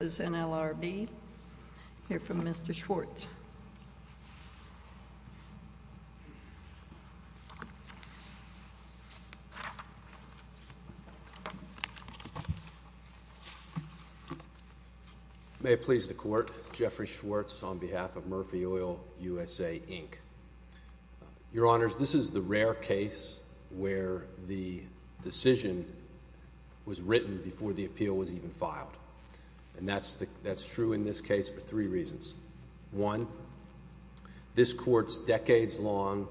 May it please the Court, Jeffrey Schwartz on behalf of Murphy Oil USA, Inc. Your Honors, this is the rare case where the decision was written before the appeal was even filed, and that's true in this case for three reasons. One, this Court's decades-long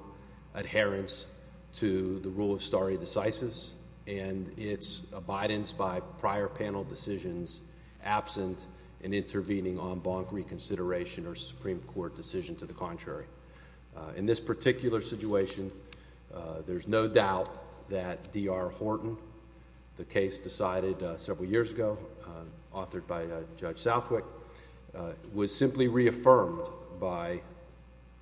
adherence to the rule of stare decisis and its abidance by prior panel decisions absent in intervening on bonk reconsideration or Supreme Court decision to the contrary. In this particular situation, there's no doubt that D.R. Horton, the case decided several years ago, authored by Judge Southwick, was simply reaffirmed by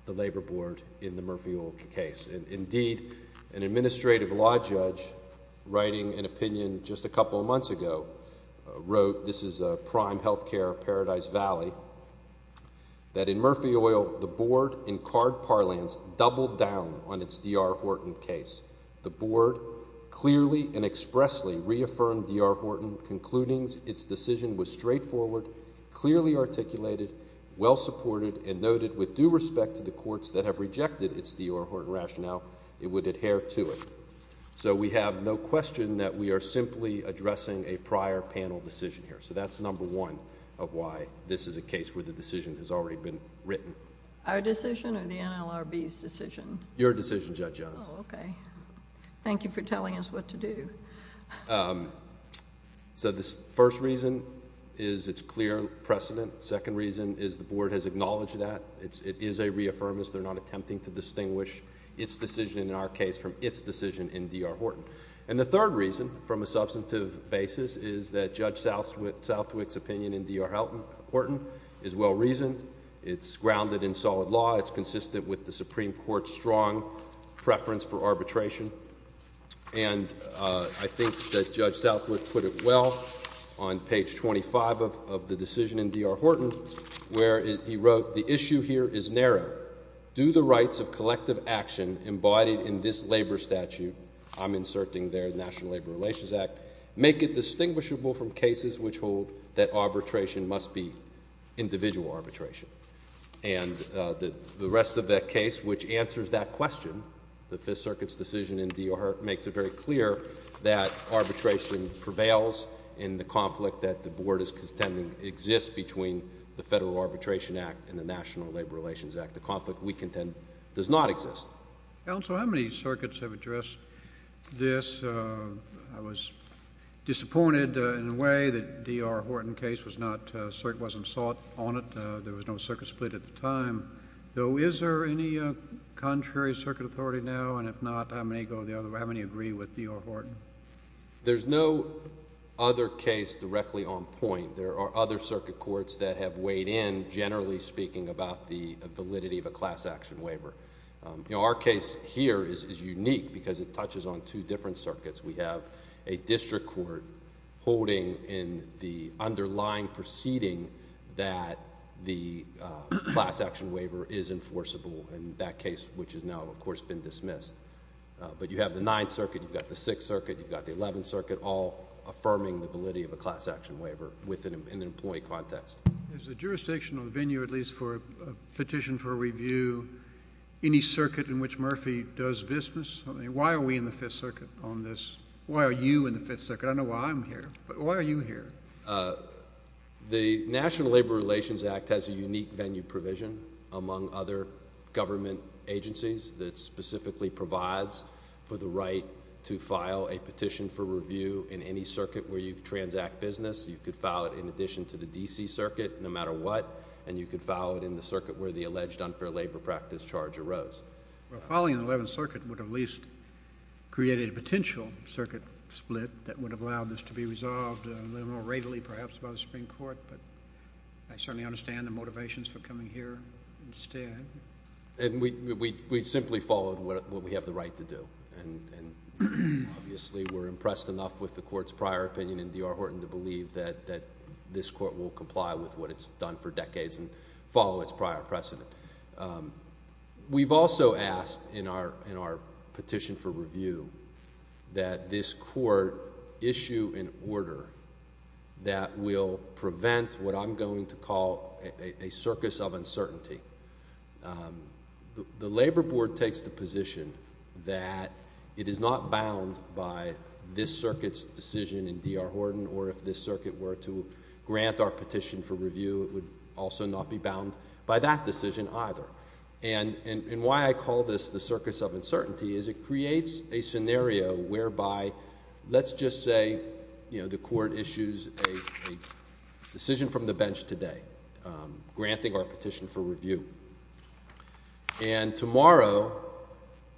the Labor Board in the Murphy Oil case. Indeed, an administrative law judge writing an opinion just a couple of months ago wrote, this is Prime Healthcare, Paradise Valley, that in Murphy Oil, the Board in card parlance doubled down on its D.R. Horton case. The Board clearly and expressly reaffirmed D.R. Horton's concludings. Its decision was straightforward, clearly articulated, well supported, and noted with due respect to the Courts that have rejected its D.R. Horton rationale, it would adhere to it. So we have no question that we are simply addressing a prior panel decision here. So that's number one of why this is a case where the decision has already been written. Our decision or the NLRB's decision? Your decision, Judge Jones. Oh, okay. Thank you for telling us what to do. So the first reason is it's clear precedent. Second reason is the Board has acknowledged that. It is a reaffirmance. They're not attempting to distinguish its decision in our case from its decision in D.R. Horton. And the third reason, from a substantive basis, is that Judge Southwick's opinion in D.R. Horton is well reasoned. It's grounded in solid law. It's consistent with the Supreme Court's strong preference for arbitration. And I think that Judge Southwick put it well on page 25 of the decision in D.R. Horton where he wrote, the issue here is narrow. Do the rights of collective action embodied in this labor statute, I'm inserting there the National Labor Relations Act, make it distinguishable from cases which hold that arbitration must be individual arbitration? And the rest of that case, which answers that question, the Fifth Circuit's decision in D.R. Horton, makes it very clear that arbitration prevails in the conflict that the Board is contending exists between the Federal Arbitration Act and the National Labor Relations Act. The conflict we contend does not exist. Counsel, how many circuits have addressed this? I was disappointed in a way that D.R. Horton case was not, certainly wasn't sought on it. There was no circuit split at the time. Though, is there any contrary circuit authority now and if not, how many agree with D.R. Horton? There's no other case directly on point. There are other circuit courts that have weighed in, generally speaking, about the validity of a class action waiver. Our case here is unique because it touches on two different circuits. We have a district court holding in the underlying proceeding that the class action waiver is enforceable in that case, which has now, of course, been dismissed. But you have the Ninth Circuit. You've got the Sixth Circuit. You've got the Eleventh Circuit, all affirming the validity of a class action waiver within an employee context. Is the jurisdiction of the venue, at least for a petition for review, any circuit in which Murphy does business? Why are we in the Fifth Circuit on this? Why are you in the Fifth Circuit? I don't know why I'm here, but why are you here? The National Labor Relations Act has a unique venue provision among other government agencies that specifically provides for the right to file a petition for review in any circuit where you transact business. You could file it in addition to the D.C. Circuit, no matter what, and you could file it in the circuit where the alleged unfair labor practice charge arose. Well, filing in the Eleventh Circuit would have at least created a potential circuit split that would have allowed this to be resolved a little more readily, perhaps, by the Supreme Court. But I certainly understand the motivations for coming here instead. And we simply followed what we have the right to do, and obviously, we're impressed enough with the Court's prior opinion in D.R. Horton to believe that this Court will comply with what it's done for decades and follow its prior precedent. We've also asked in our petition for review that this Court issue an order that will prevent what I'm going to call a circus of uncertainty. The Labor Board takes the position that it is not bound by this Circuit's decision in D.R. Horton, or if this Circuit were to grant our petition for review, it would also not be bound by that decision either. And why I call this the circus of uncertainty is it creates a scenario whereby, let's just say, you know, the Court issues a decision from the bench today, granting our petition for review, and tomorrow,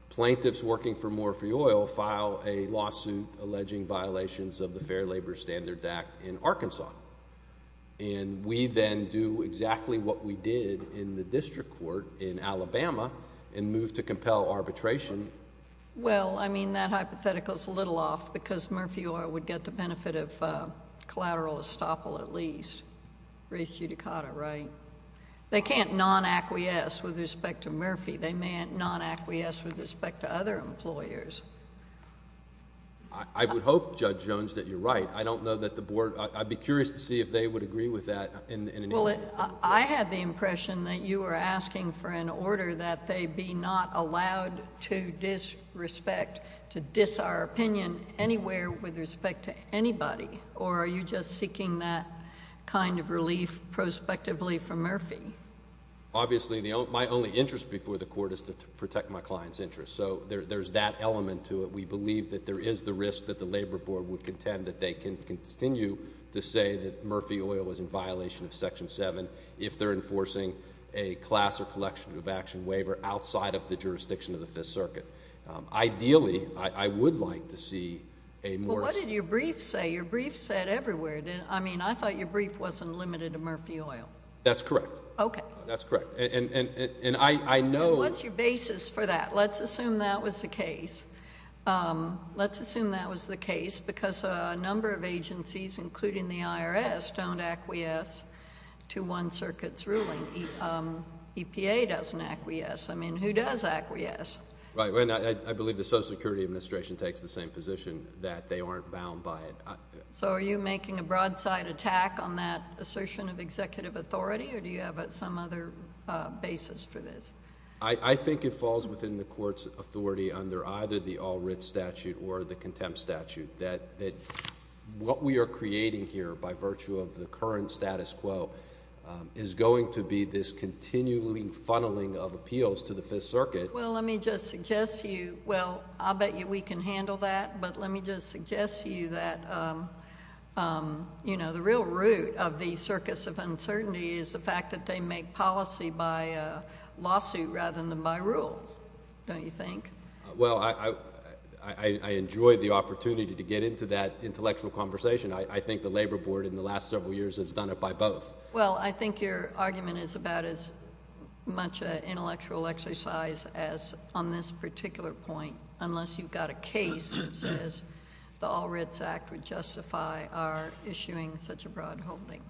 plaintiffs working for Morphe Oil file a lawsuit alleging violations of the Fair Labor Standards Act in Arkansas. And we then do exactly what we did in the district court in Alabama and move to compel arbitration. Well, I mean, that hypothetical is a little off because Morphe Oil would get the benefit of collateral estoppel at least, res judicata, right? They can't non-acquiesce with respect to Morphe. They may non-acquiesce with respect to other employers. I would hope, Judge Jones, that you're right. I don't know that the Board... I'd be curious to see if they would agree with that in any way. Well, I had the impression that you were asking for an order that they be not allowed to disrespect, to dis our opinion anywhere with respect to anybody, or are you just seeking that kind of relief prospectively from Morphe? Obviously, my only interest before the Court is to protect my client's interest. So there's that element to it. We believe that there is the risk that the Labor Board would contend that they can continue to say that Morphe Oil is in violation of Section 7 if they're enforcing a class or collection of action waiver outside of the jurisdiction of the Fifth Circuit. Ideally, I would like to see a more... Well, what did your brief say? Your brief said everywhere... I mean, I thought your brief wasn't limited to Morphe Oil. That's correct. Okay. That's correct. And I know... And what's your basis for that? Let's assume that was the case. Let's assume that was the case because a number of agencies, including the IRS, don't acquiesce to one circuit's ruling. EPA doesn't acquiesce. I mean, who does acquiesce? Right. I believe the Social Security Administration takes the same position, that they aren't bound by it. So are you making a broadside attack on that assertion of executive authority, or do you have some other basis for this? I think it falls within the Court's authority under either the All-Writs Statute or the Contempt Statute, that what we are creating here by virtue of the current status quo is going to be this continuing funneling of appeals to the Fifth Circuit. Well, let me just suggest to you... Well, I'll bet you we can handle that, but let me just suggest to you that, you know, the real root of the circus of uncertainty is the fact that they make policy by lawsuit rather than by rule, don't you think? Well, I enjoy the opportunity to get into that intellectual conversation. I think the Labor Board, in the last several years, has done it by both. Well, I think your argument is about as much an intellectual exercise as on this particular point, unless you've got a case that says the All-Writs Act would justify our issuing such a broad holding.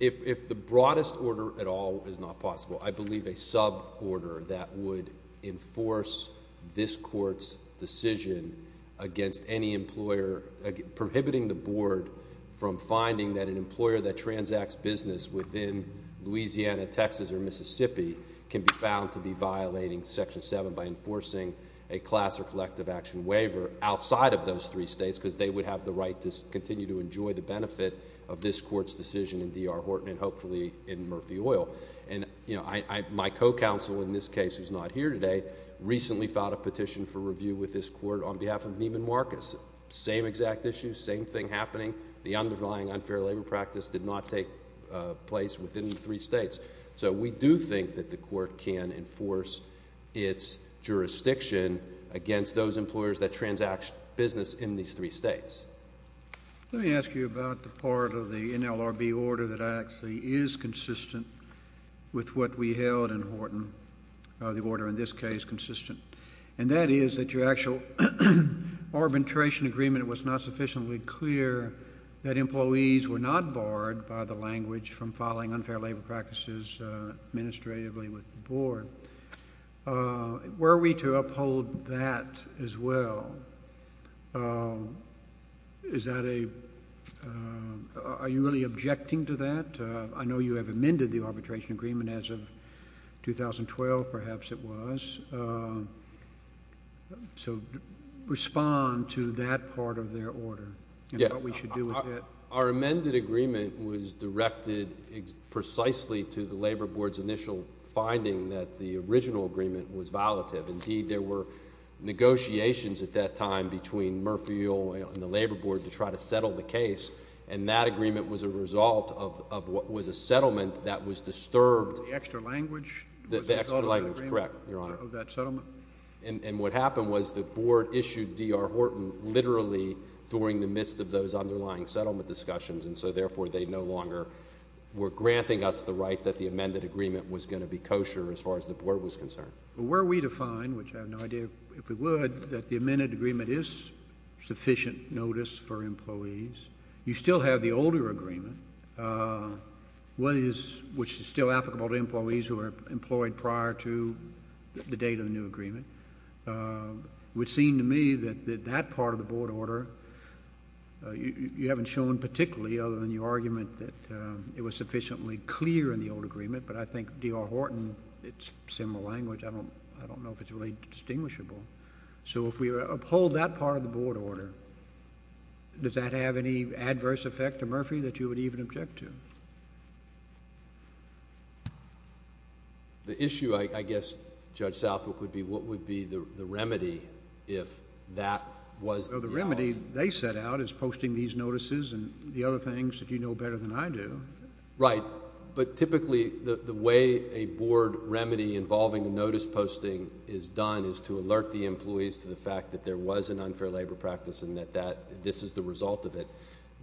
If the broadest order at all is not possible, I believe a suborder that would enforce this Court's decision against any employer... prohibiting the Board from finding that an employer that transacts business within Louisiana, Texas, or Mississippi can be found to be violating Section 7 by enforcing a class or collective action waiver outside of those three states because they would have the right to continue to enjoy the benefit of this Court's decision in D.R. Horton and hopefully in Murphy Oil. And you know, my co-counsel in this case, who's not here today, recently filed a petition for review with this Court on behalf of Neiman Marcus. Same exact issue, same thing happening. The underlying unfair labor practice did not take place within the three states. So we do think that the Court can enforce its jurisdiction against those employers that transact business in these three states. Let me ask you about the part of the NLRB order that actually is consistent with what we held in Horton, the order in this case consistent. And that is that your actual arbitration agreement was not sufficiently clear that employees were not barred by the language from filing unfair labor practices administratively with the Board. Were we to uphold that as well, is that a... are you really objecting to that? I know you have amended the arbitration agreement as of 2012, perhaps it was. So respond to that part of their order and what we should do with it. Our amended agreement was directed precisely to the Labor Board's initial finding that the original agreement was violative. Indeed, there were negotiations at that time between Murphy Oil and the Labor Board to try to settle the case, and that agreement was a result of what was a settlement that was disturbed... The extra language... The extra language, correct, Your Honor.... of that settlement? And what happened was the Board issued D.R. Horton literally during the midst of those underlying settlement discussions, and so therefore they no longer were granting us the right that the amended agreement was going to be kosher as far as the Board was concerned. Were we to find, which I have no idea if we would, that the amended agreement is sufficient notice for employees, you still have the older agreement, which is still applicable to employees who are employed prior to the date of the new agreement, it would seem to me that that part of the Board order... you haven't shown particularly other than your argument that it was sufficiently clear in the old agreement, but I think D.R. Horton, it's similar language. I don't know if it's really distinguishable. So if we uphold that part of the Board order, does that have any adverse effect to Murphy that you would even object to? The issue, I guess, Judge Southwick, would be what would be the remedy if that was... Well, the remedy they set out is posting these notices and the other things that you know better than I do. Right. But typically the way a Board remedy involving a notice posting is done is to alert the employees to the fact that there was an unfair labor practice and that this is the result of it.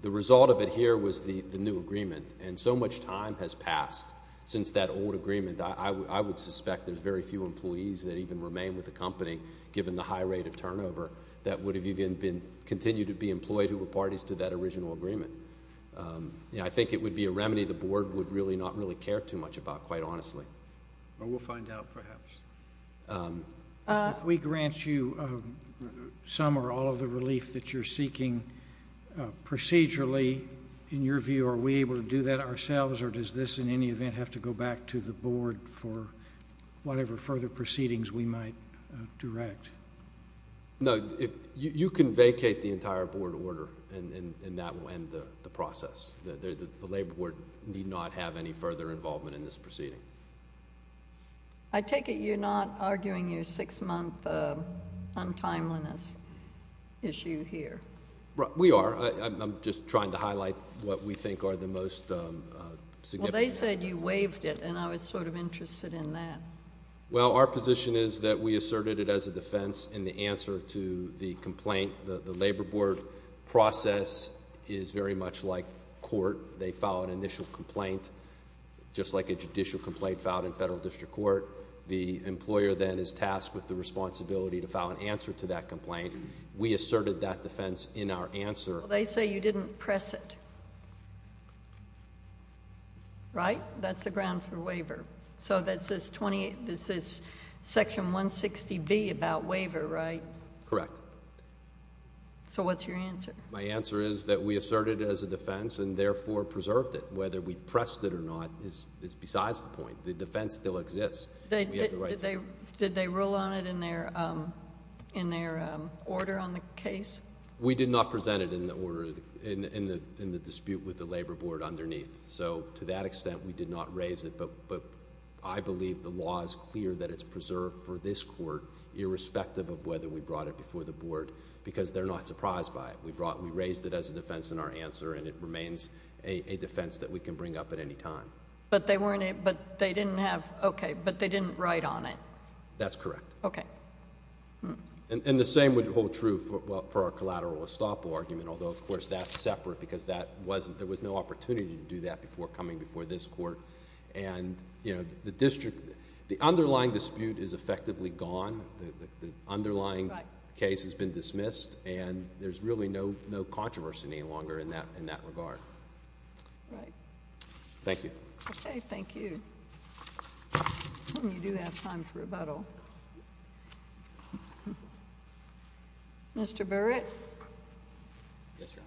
The result of it here was the new agreement, and so much time has passed since that old agreement. I would suspect there's very few employees that even remain with the company, given the high rate of turnover, that would have even continued to be employed who were parties to that original agreement. I think it would be a remedy the Board would really not really care too much about, quite honestly. Well, we'll find out, perhaps. If we grant you some or all of the relief that you're seeking procedurally, in your view, are we able to do that ourselves, or does this, in any event, have to go back to the Board for whatever further proceedings we might direct? No, you can vacate the entire Board order, and that will end the process. The Labor Board need not have any further involvement in this proceeding. I take it you're not arguing your six-month untimeliness issue here? We are. I'm just trying to highlight what we think are the most significant. Well, they said you waived it, and I was sort of interested in that. Well, our position is that we asserted it as a defense, and the answer to the complaint, the Labor Board process, is very much like court. They file an initial complaint, just like a judicial complaint filed in federal district court. The employer, then, is tasked with the responsibility to file an answer to that complaint. We asserted that defense in our answer. They say you didn't press it, right? That's the ground for waiver. So this is Section 160B about waiver, right? Correct. So what's your answer? My answer is that we asserted it as a defense, and therefore preserved it. Whether we pressed it or not is besides the point. The defense still exists. Did they rule on it in their order on the case? We did not present it in the dispute with the Labor Board underneath. So to that extent, we did not raise it, but I believe the law is clear that it's preserved for this court, irrespective of whether we brought it before the Board, because they're not surprised by it. We raised it as a defense in our answer, and it remains a defense that we can bring up at any time. Okay, but they didn't write on it? That's correct. Okay. And the same would hold true for our collateral estoppel argument, although, of course, that's separate because there was no opportunity to do that before coming before this court. The underlying dispute is effectively gone. The underlying case has been dismissed, and there's really no controversy any longer in that regard. Right. Thank you. Okay, thank you. You do have time for rebuttal. Mr. Barrett? Yes, Your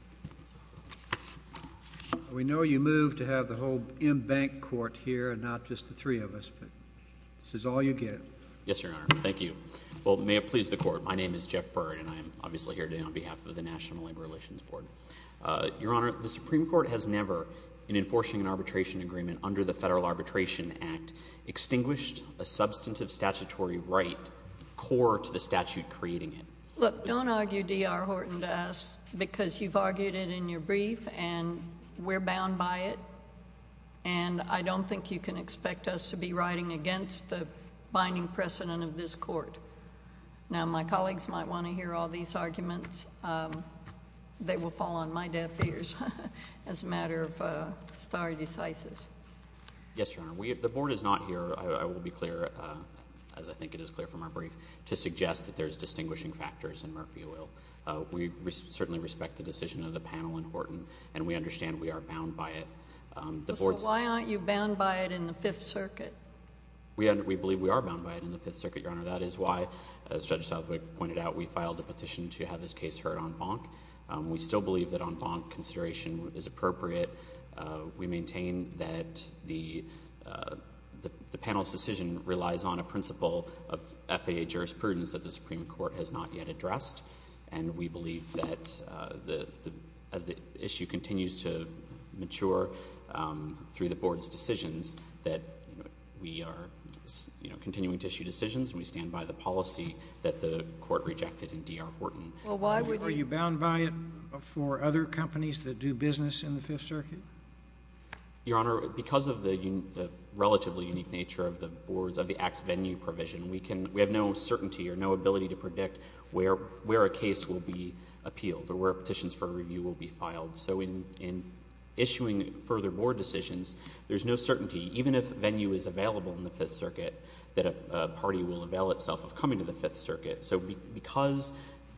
Honor. We know you moved to have the whole in-bank court here and not just the three of us, but this is all you get. Yes, Your Honor. Thank you. Thank you. Well, may it please the Court. My name is Jeff Barrett, and I'm obviously here today on behalf of the National Labor Relations Board. Your Honor, the Supreme Court has never, in enforcing an arbitration agreement under the Federal Arbitration Act, extinguished a substantive statutory right core to the statute creating it. Look, don't argue D.R. Horton to us, because you've argued it in your brief, and we're bound by it, and I don't think you can expect us to be writing against the binding precedent of this Court. Now, my colleagues might want to hear all these arguments. They will fall on my deaf ears as a matter of stare decisis. Yes, Your Honor. The Board is not here, I will be clear, as I think it is clear from our brief, to suggest that there's distinguishing factors in Murphy Oil. We certainly respect the decision of the panel in Horton, and we understand we are bound by it. So why aren't you bound by it in the Fifth Circuit? We believe we are bound by it in the Fifth Circuit, Your Honor. That is why, as Judge Southwick pointed out, we filed a petition to have this case heard en banc. We still believe that en banc consideration is appropriate. We maintain that the panel's decision relies on a principle of FAA jurisprudence that the Supreme Court has not yet addressed, and we believe that as the issue continues to mature through the Board's decisions, that we are continuing to issue decisions, and we stand by the policy that the Court rejected in D.R. Horton. Are you bound by it for other companies that do business in the Fifth Circuit? Your Honor, because of the relatively unique nature of the board's, of the Act's venue provision, we can, we have no certainty or no ability to predict where a case will be appealed, or where petitions for review will be filed. So in issuing further board decisions, there's no certainty, even if venue is available in the Fifth Circuit, that a party will avail itself of coming to the Fifth Circuit. So because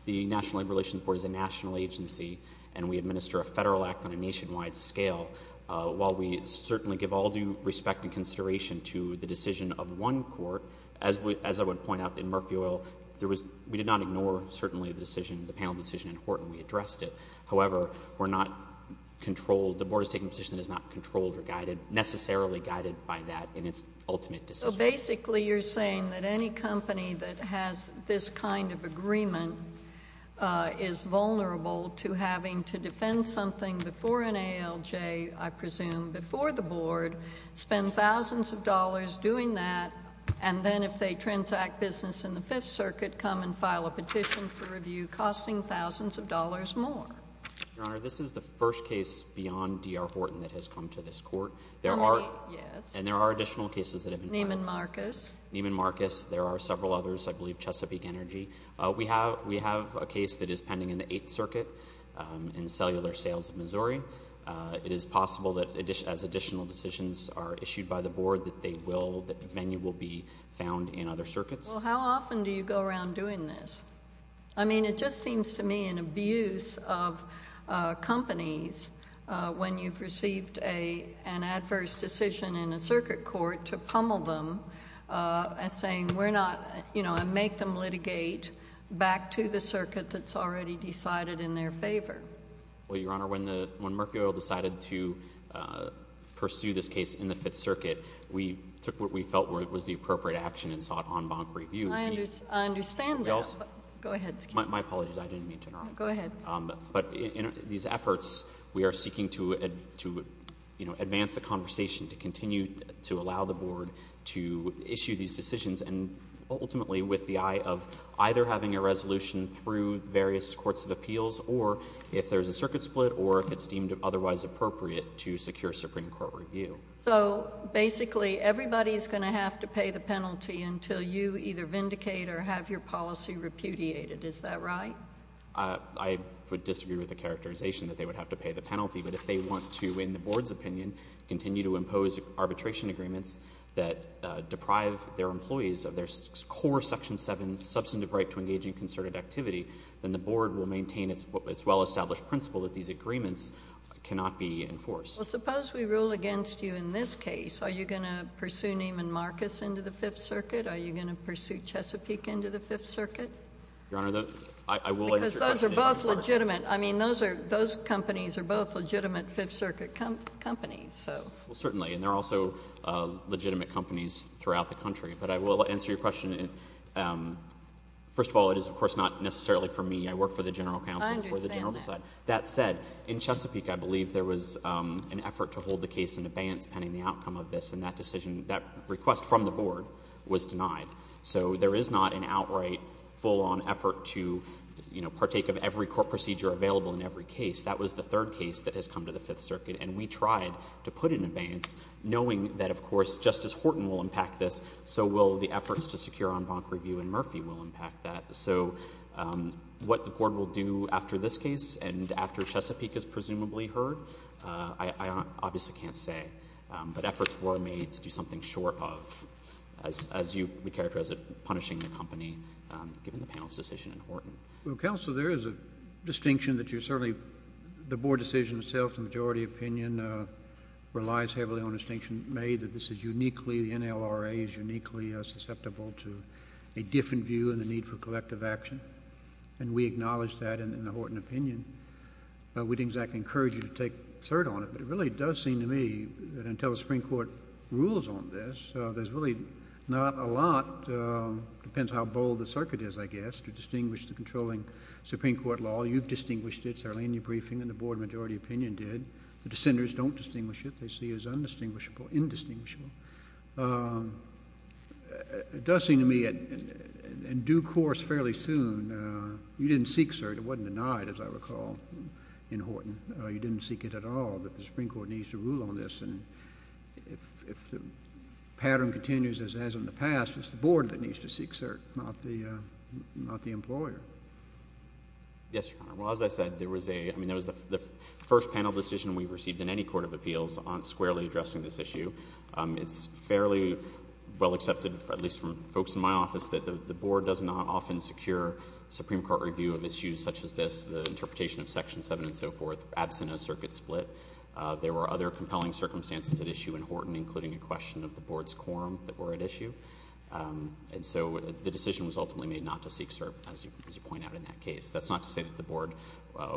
the National Labor Relations Board is a national agency, and we administer a federal act on a nationwide scale, while we certainly give all due respect and consideration to the decision of one court, as I would point out in Murphy Oil, there was, we did not ignore certainly the decision, the panel decision in Horton. We addressed it. However, we're not controlled, the board is taking a position that is not controlled or guided, necessarily guided by that in its ultimate decision. So basically you're saying that any company that has this kind of agreement is vulnerable to having to defend something before an ALJ, I presume, before the board, spend thousands of dollars doing that, and then if they transact business in the Fifth Circuit, come and file a petition for review costing thousands of dollars more? Your Honor, this is the first case beyond D.R. Horton that has come to this court. There are, yes, and there are additional cases that have been filed since. Neiman Marcus. Neiman Marcus. There are several others. I believe Chesapeake Energy. We have, we have a case that is pending in the Eighth Circuit in Cellular Sales, Missouri. It is possible that as additional decisions are issued by the board, that they will, that venue will be found in other circuits. Well, how often do you go around doing this? I mean, it just seems to me an abuse of companies when you've received a, an adverse decision in a circuit court to pummel them and saying, we're not, you know, and make them litigate back to the circuit that's already decided in their favor. Well, Your Honor, when the, when Murphy Oil decided to pursue this case in the Fifth Circuit, we took what we felt was the appropriate action and sought en banc review. I understand that. Go ahead. Excuse me. My apologies. I didn't mean to interrupt. Go ahead. But in these efforts, we are seeking to, to, you know, advance the conversation to continue to allow the board to issue these decisions and ultimately with the eye of either having a resolution through various courts of appeals or if there's a circuit split or if it's deemed otherwise appropriate to secure Supreme Court review. So, basically, everybody's going to have to pay the penalty until you either vindicate or have your policy repudiated, is that right? I would disagree with the characterization that they would have to pay the penalty, but if they want to, in the board's opinion, continue to impose arbitration agreements that deprive their employees of their core Section 7 substantive right to engage in concerted activity, then the board will maintain its well-established principle that these agreements cannot be enforced. Well, suppose we rule against you in this case. Are you going to pursue Neiman Marcus into the Fifth Circuit? Are you going to pursue Chesapeake into the Fifth Circuit? Your Honor, the — I will answer your question in reverse. Because those are both legitimate. I mean, those are — those companies are both legitimate Fifth Circuit companies, so. Well, certainly. And there are also legitimate companies throughout the country. But I will answer your question in — first of all, it is, of course, not necessarily for me. I work for the general counsel. I understand that. It's more the general side. But that said, in Chesapeake, I believe there was an effort to hold the case in abeyance pending the outcome of this, and that decision — that request from the board was denied. So there is not an outright, full-on effort to, you know, partake of every court procedure available in every case. That was the third case that has come to the Fifth Circuit, and we tried to put it in abeyance knowing that, of course, Justice Horton will impact this, so will the efforts to secure en banc review, and Murphy will impact that. So what the board will do after this case and after Chesapeake is presumably heard, I obviously can't say. But efforts were made to do something short of, as you would characterize it, punishing the company, given the panel's decision in Horton. Well, counsel, there is a distinction that you're certainly — the board decision itself, in the majority opinion, relies heavily on a distinction made that this is uniquely — the NLRA is uniquely susceptible to a different view and the need for collective action, and we acknowledge that in the Horton opinion. We didn't exactly encourage you to take third on it, but it really does seem to me that until the Supreme Court rules on this, there's really not a lot — depends how bold the circuit is, I guess — to distinguish the controlling Supreme Court law. You've distinguished it, Sarlene, in your briefing, and the board in the majority opinion did. The dissenters don't distinguish it. What they see is undistinguishable, indistinguishable. It does seem to me, in due course, fairly soon, you didn't seek cert. It wasn't denied, as I recall, in Horton. You didn't seek it at all. But the Supreme Court needs to rule on this. And if the pattern continues as it has in the past, it's the board that needs to seek cert, not the — not the employer. Yes, Your Honor. Well, as I said, there was a — I mean, that was the first panel decision we received in And I think it's important to note that the Supreme Court, in the majority opinion, did not seek it at all. issue. It's fairly well accepted, at least from folks in my office, that the board does not often secure Supreme Court review of issues such as this, the interpretation of Section 7 and so forth, absent a circuit split. There were other compelling circumstances at issue in Horton, including a question of the board's quorum that were at issue. And so the decision was ultimately made not to seek cert, as you point out in that case. That's not to say that the board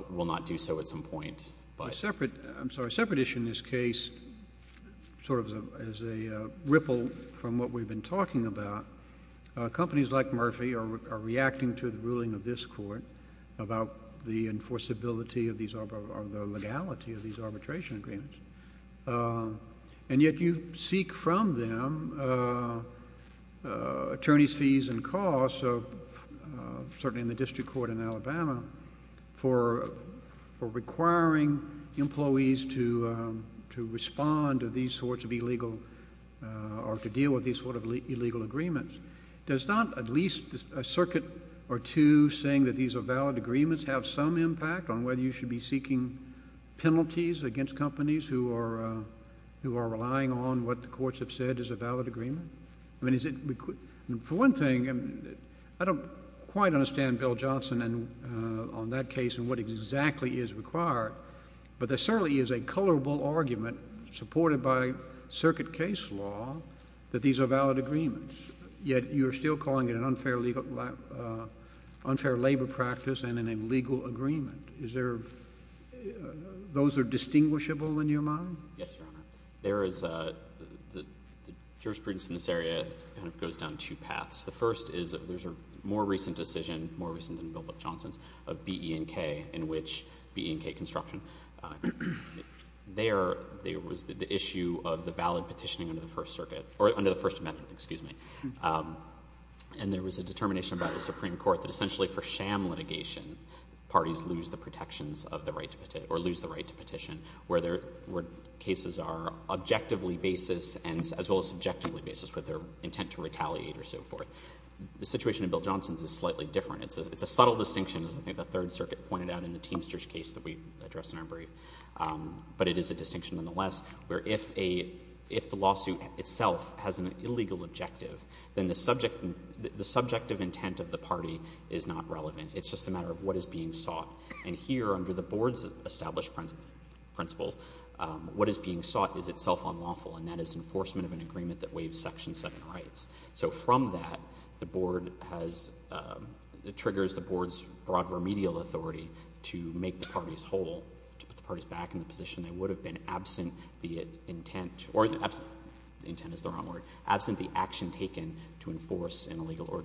will not do so at some point. But — A separate — I'm sorry. A separate issue in this case. a separate issue in this case. I mean, it's — it's a very — it's a very complex issue. And I think that's why it's so important for us to be able to respond to these sorts of illegal — or to deal with these sort of illegal agreements. Does not at least a circuit or two saying that these are valid agreements have some impact on whether you should be seeking penalties against companies who are — who are relying on what the courts have said is a valid agreement? I mean, is it — for one thing, I don't quite understand Bill Johnson on that case and what exactly is required. But there certainly is a colorable argument supported by circuit case law that these are valid agreements, yet you're still calling it an unfair legal — unfair labor practice and an illegal agreement. Is there — those are distinguishable in your mind? Yes, Your Honor. There is — the jurisprudence in this area kind of goes down two paths. The first is there's a more recent decision, more recent than Bill Johnson's, of BE&K in which — BE&K construction. There was the issue of the valid petitioning under the First Circuit — or under the First Amendment, excuse me. And there was a determination by the Supreme Court that essentially for sham litigation, parties lose the protections of the right to — or lose the right to petition where there were cases are objectively basis and — as well as subjectively basis with their intent to retaliate or so forth. The situation in Bill Johnson's is slightly different. It's a subtle distinction, as I think the Third Circuit pointed out in the Teamsters case that we addressed in our brief. But it is a distinction nonetheless, where if a — if the lawsuit itself has an illegal objective, then the subject — the subjective intent of the party is not relevant. It's just a matter of what is being sought. And here under the Board's established principle, what is being sought is itself unlawful, and that is enforcement of an agreement that waives Section 7 rights. So from that, the Board has — it triggers the Board's broad remedial authority to make the parties whole, to put the parties back in the position they would have been absent the intent — or absent — intent is the wrong word — absent the action taken to enforce an illegal — or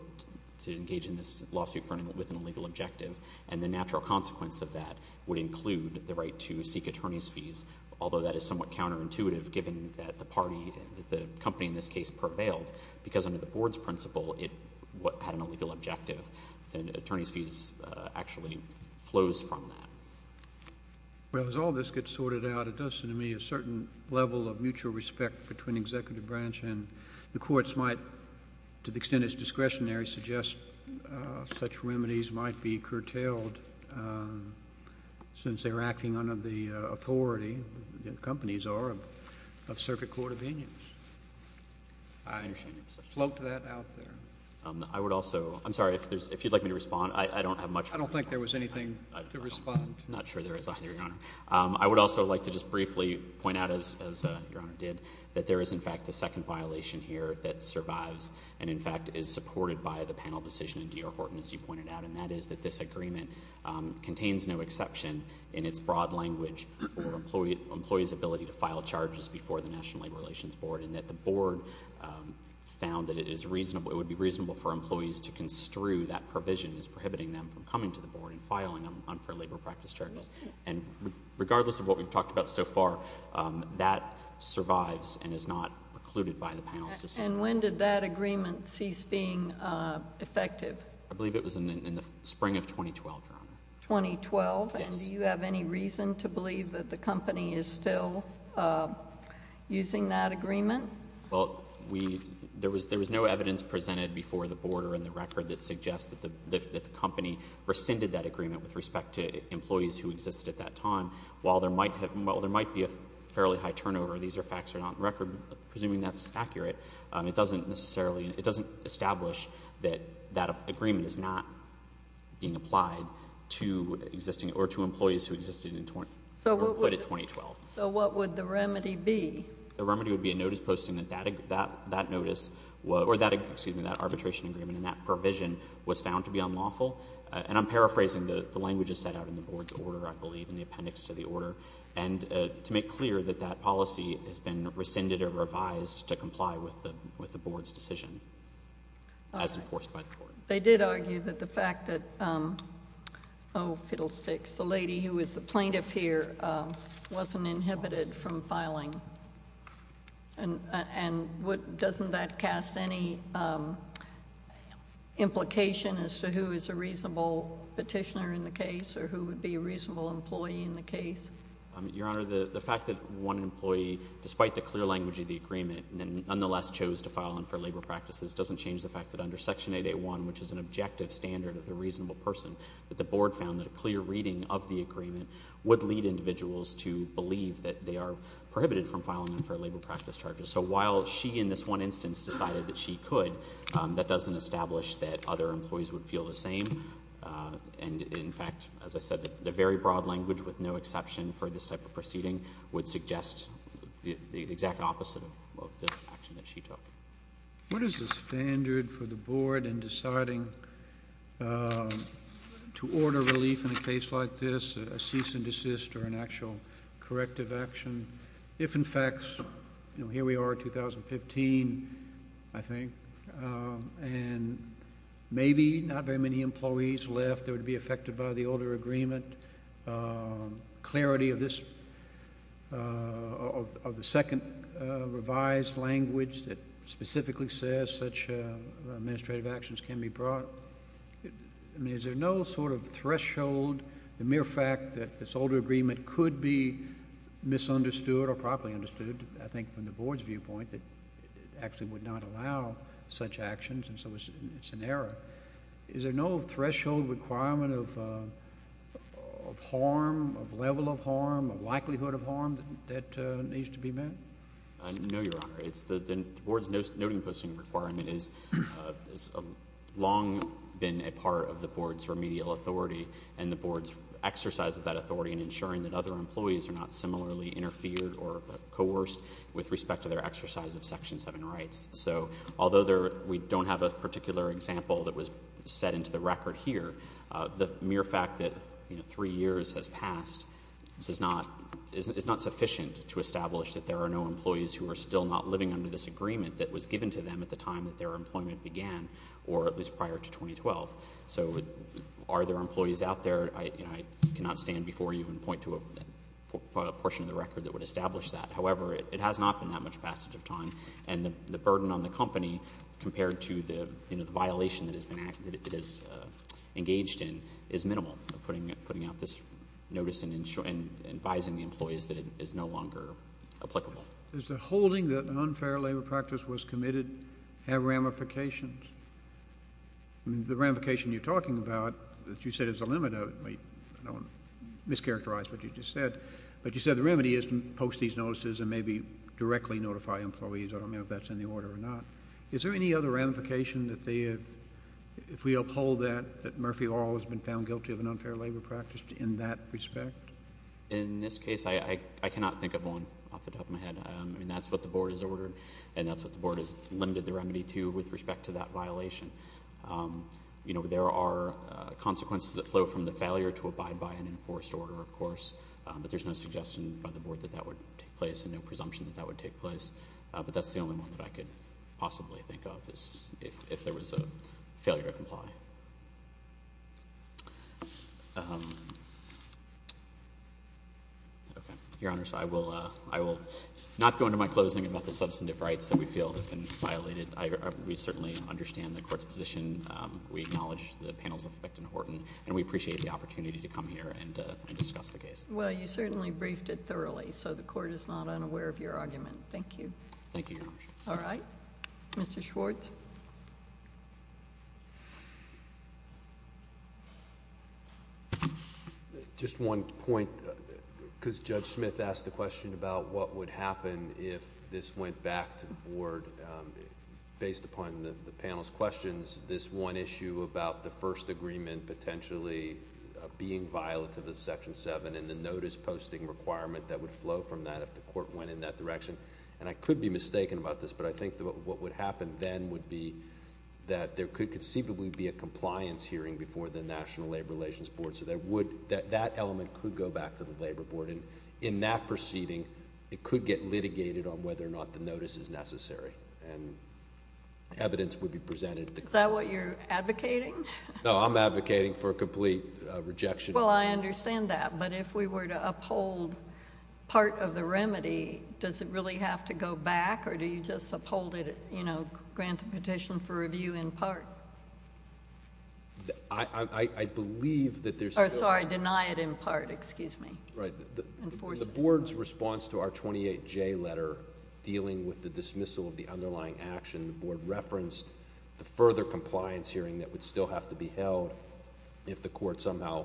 to engage in this lawsuit with an illegal objective. And the natural consequence of that would include the right to seek attorney's fees, although that is somewhat counterintuitive given that the party — the company in this case prevailed, because under the Board's principle, it had an illegal objective. And attorney's fees actually flows from that. JUSTICE SCALIA. Well, as all this gets sorted out, it does seem to me a certain level of mutual respect between Executive Branch and the courts might, to the extent it's discretionary, suggest such remedies might be curtailed since they're acting under the authority — the companies are of Circuit Court of Avenues. I float to that out there. MR. MOSS. I would also — I'm sorry. If there's — if you'd like me to respond, I don't have much more to say. JUSTICE SCALIA. I don't think there was anything to respond. MR. MOSS. I'm not sure there is either, Your Honor. I would also like to just briefly point out, as Your Honor did, that there is, in fact, a second violation here that survives and, in fact, is supported by the panel decision in D.R. Horton, as you pointed out, and that is that this agreement contains no exception in its broad language for employees' ability to file charges before the National Labor Relations Board, and that the Board found that it is reasonable — it would be reasonable for employees to construe that provision as prohibiting them from coming to the Board and filing unfair labor practice charges. And regardless of what we've talked about so far, that survives and is not precluded by the panel's decision. JUSTICE SOTOMAYOR. And when did that agreement cease being effective? MR. MOSS. I believe it was in the spring of 2012, Your Honor. JUSTICE SOTOMAYOR. 2012? JUSTICE SOTOMAYOR. And do you have any reason to believe that the company is still using that agreement? MR. MOSS. Well, we — there was — there was no evidence presented before the Board or in the record that suggests that the — that the company rescinded that agreement with respect to employees who existed at that time. While there might have — while there might be a fairly high turnover, these are facts that are not on the record, but presuming that's accurate, it doesn't necessarily — it doesn't establish that that agreement is not being applied to existing — or to employees who existed in — who were employed in 2012. JUSTICE SOTOMAYOR. So what would the remedy be? MR. MOSS. The remedy would be a notice posting that that notice — or that, excuse me, that arbitration agreement and that provision was found to be unlawful. And I'm paraphrasing. The language is set out in the Board's order, I believe, in the appendix to the order. And to make clear that that policy has been rescinded or revised to comply with the — with the Board's decision as enforced by the Court. JUSTICE SOTOMAYOR. They did argue that the fact that — oh, fiddlesticks — the lady who is the plaintiff here wasn't inhibited from filing. And what — doesn't that cast any implication as to who is a reasonable petitioner in the case or who would be a reasonable employee in the case? MR. MOSS. Your Honor, the fact that one employee, despite the clear language of the agreement, nonetheless chose to file unfair labor practices doesn't change the fact that under Section 8A1, which is an objective standard of the reasonable person, that the Board found that a clear reading of the agreement would lead individuals to believe that they are prohibited from filing unfair labor practice charges. So while she in this one instance decided that she could, that doesn't establish that other employees would feel the same. And in fact, as I said, the very broad language with no exception for this type of proceeding would suggest the exact opposite of the action that she took. JUSTICE KENNEDY. What is the standard for the Board in deciding to order relief in a case like this, a cease and desist or an actual corrective action, if, in fact, you know, here we are, 2015, I think, and maybe not very many employees left that would be affected by the older agreement? Clarity of this, of the second revised language that specifically says such administrative actions can be brought? I mean, is there no sort of threshold, the mere fact that this older agreement could be misunderstood or properly understood, I think, from the Board's viewpoint, that it actually would not allow such actions, and so it's an error? Is there no threshold requirement of harm, of level of harm, of likelihood of harm, that needs to be met? MR. HENRY. No, Your Honor. It's the Board's noting posting requirement has long been a part of the Board's remedial authority and the Board's exercise of that authority in ensuring that other employees are not similarly interfered or coerced with respect to their exercise of Section 7 rights. So although we don't have a particular example that was set into the record here, the mere fact that, you know, three years has passed is not sufficient to establish that there are no employees who are still not living under this agreement that was given to them at the time that their employment began, or at least prior to 2012. So are there employees out there? I cannot stand before you and point to a portion of the record that would establish that. However, it has not been that much passage of time, and the burden on the company compared to the, you know, the violation that it has engaged in is minimal, putting out this notice and advising the employees that it is no longer applicable. JUSTICE KENNEDY. Does the holding that an unfair labor practice was committed have ramifications? The ramification you're talking about that you said is a limit of it, I don't want to and maybe directly notify employees, I don't know if that's in the order or not. Is there any other ramification that they have, if we uphold that, that Murphy Orr has been found guilty of an unfair labor practice in that respect? MR. GOLDSMITH. In this case, I cannot think of one off the top of my head. I mean, that's what the Board has ordered, and that's what the Board has limited the remedy to with respect to that violation. You know, there are consequences that flow from the failure to abide by an enforced order, of course. But there's no suggestion by the Board that that would take place and no presumption that that would take place. But that's the only one that I could possibly think of is if there was a failure to comply. Okay. Your Honors, I will not go into my closing about the substantive rights that we feel have been violated. We certainly understand the Court's position. We acknowledge the panel's effect in Horton, and we appreciate the opportunity to come here and discuss the case. JUSTICE GINSBURG. Well, you certainly briefed it thoroughly, so the Court is not unaware of your Thank you. MR. Thank you, Your Honor. JUSTICE GINSBURG. All right. Mr. Schwartz. MR. SCHWARTZ. Just one point, because Judge Smith asked the question about what would happen if this went back to the Board, based upon the panel's questions, this one issue about the first agreement potentially being violative of Section 7 and the notice-posting requirement that would flow from that if the Court went in that direction, and I could be mistaken about this, but I think what would happen then would be that there could conceivably be a compliance hearing before the National Labor Relations Board, so there would... that element could go back to the Labor Board, and in that proceeding, it could get litigated on whether or not the notice is necessary, and evidence would be presented to the Court. JUSTICE GINSBURG. Is that what you're advocating? MR. SCHWARTZ. No, I'm advocating for a complete rejection. JUSTICE GINSBURG. Well, I understand that, but if we were to uphold part of the remedy, does it really have to go back, or do you just uphold it, you know, grant the petition for review in MR. SCHWARTZ. I believe that there's... JUSTICE GINSBURG. Oh, sorry, deny it in part. Excuse me. MR. SCHWARTZ. Right. JUSTICE GINSBURG. Enforce it. MR. SCHWARTZ. The Board's response to our 28J letter dealing with the dismissal of the underlying action, the Board referenced the further compliance hearing that would still have to be held if the Court somehow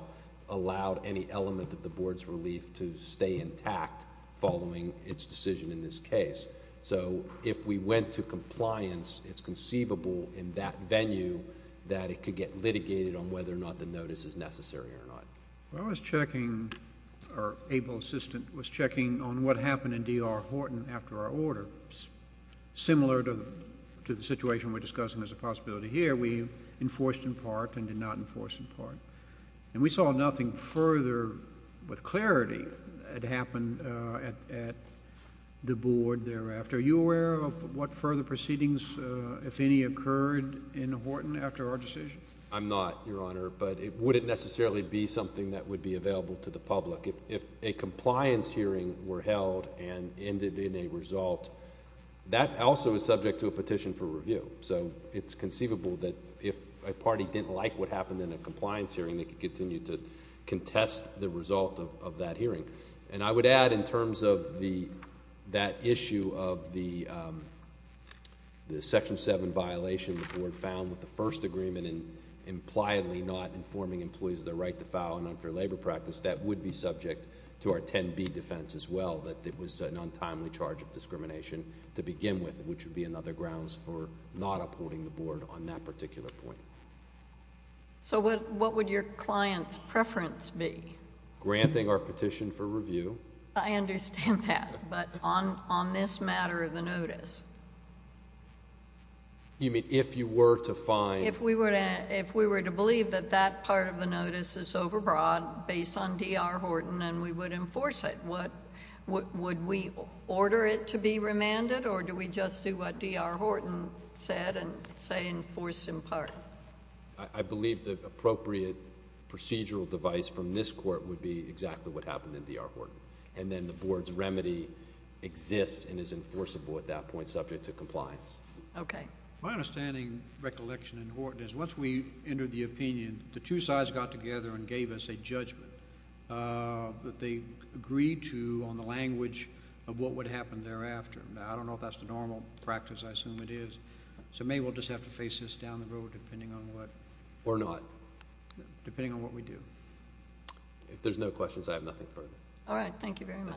allowed any element of the Board's relief to stay intact following its decision in this case. So if we went to compliance, it's conceivable in that venue that it could get litigated on whether or not the notice is necessary or not. JUSTICE KENNEDY. I was checking... our able assistant was checking on what happened in D.R. Horton after our order. Similar to the situation we're discussing as a possibility here, we enforced in part and did not enforce in part. And we saw nothing further with clarity that happened at the Board thereafter. Are you aware of what further proceedings, if any, occurred in Horton after our decision? MR. SCHWARTZ. I'm not, Your Honor, but it wouldn't necessarily be something that would be available to the public. If a compliance hearing were held and ended in a result, that also is subject to a petition for review. So it's conceivable that if a party didn't like what happened in a compliance hearing, they could continue to contest the result of that hearing. And I would add in terms of that issue of the Section 7 violation the Board found with the first agreement and impliedly not informing employees of their right to file a nonfair labor practice. That would be subject to our 10B defense as well, that it was an untimely charge of discrimination to begin with, which would be another grounds for not upholding the Board on that particular point. JUSTICE GINSBURG. So what would your client's preference be? MR. ZIEGLER. Granting our petition for review. JUSTICE GINSBURG. I understand that. But on this matter of the notice? MR. ZIEGLER. You mean if you were to find... JUSTICE GINSBURG. If we were to believe that that part of the notice is overbrought based on D.R. Horton and we would enforce it, would we order it to be remanded or do we just do what D.R. Horton said and say enforce in part? MR. ZIEGLER. I believe the appropriate procedural device from this Court would be exactly what happened in D.R. Horton. And then the Board's remedy exists and is enforceable at that point subject to compliance. JUSTICE GINSBURG. Okay. My outstanding recollection in Horton is once we entered the opinion, the two sides got together and gave us a judgment that they agreed to on the language of what would happen thereafter. I don't know if that's the normal practice. I assume it is. So maybe we'll just have to face this down the road depending on what... MR. ZIEGLER. JUSTICE GINSBURG. Depending on what we do. MR. ZIEGLER. If there's no questions, I have nothing further. JUSTICE KAGAN. All right.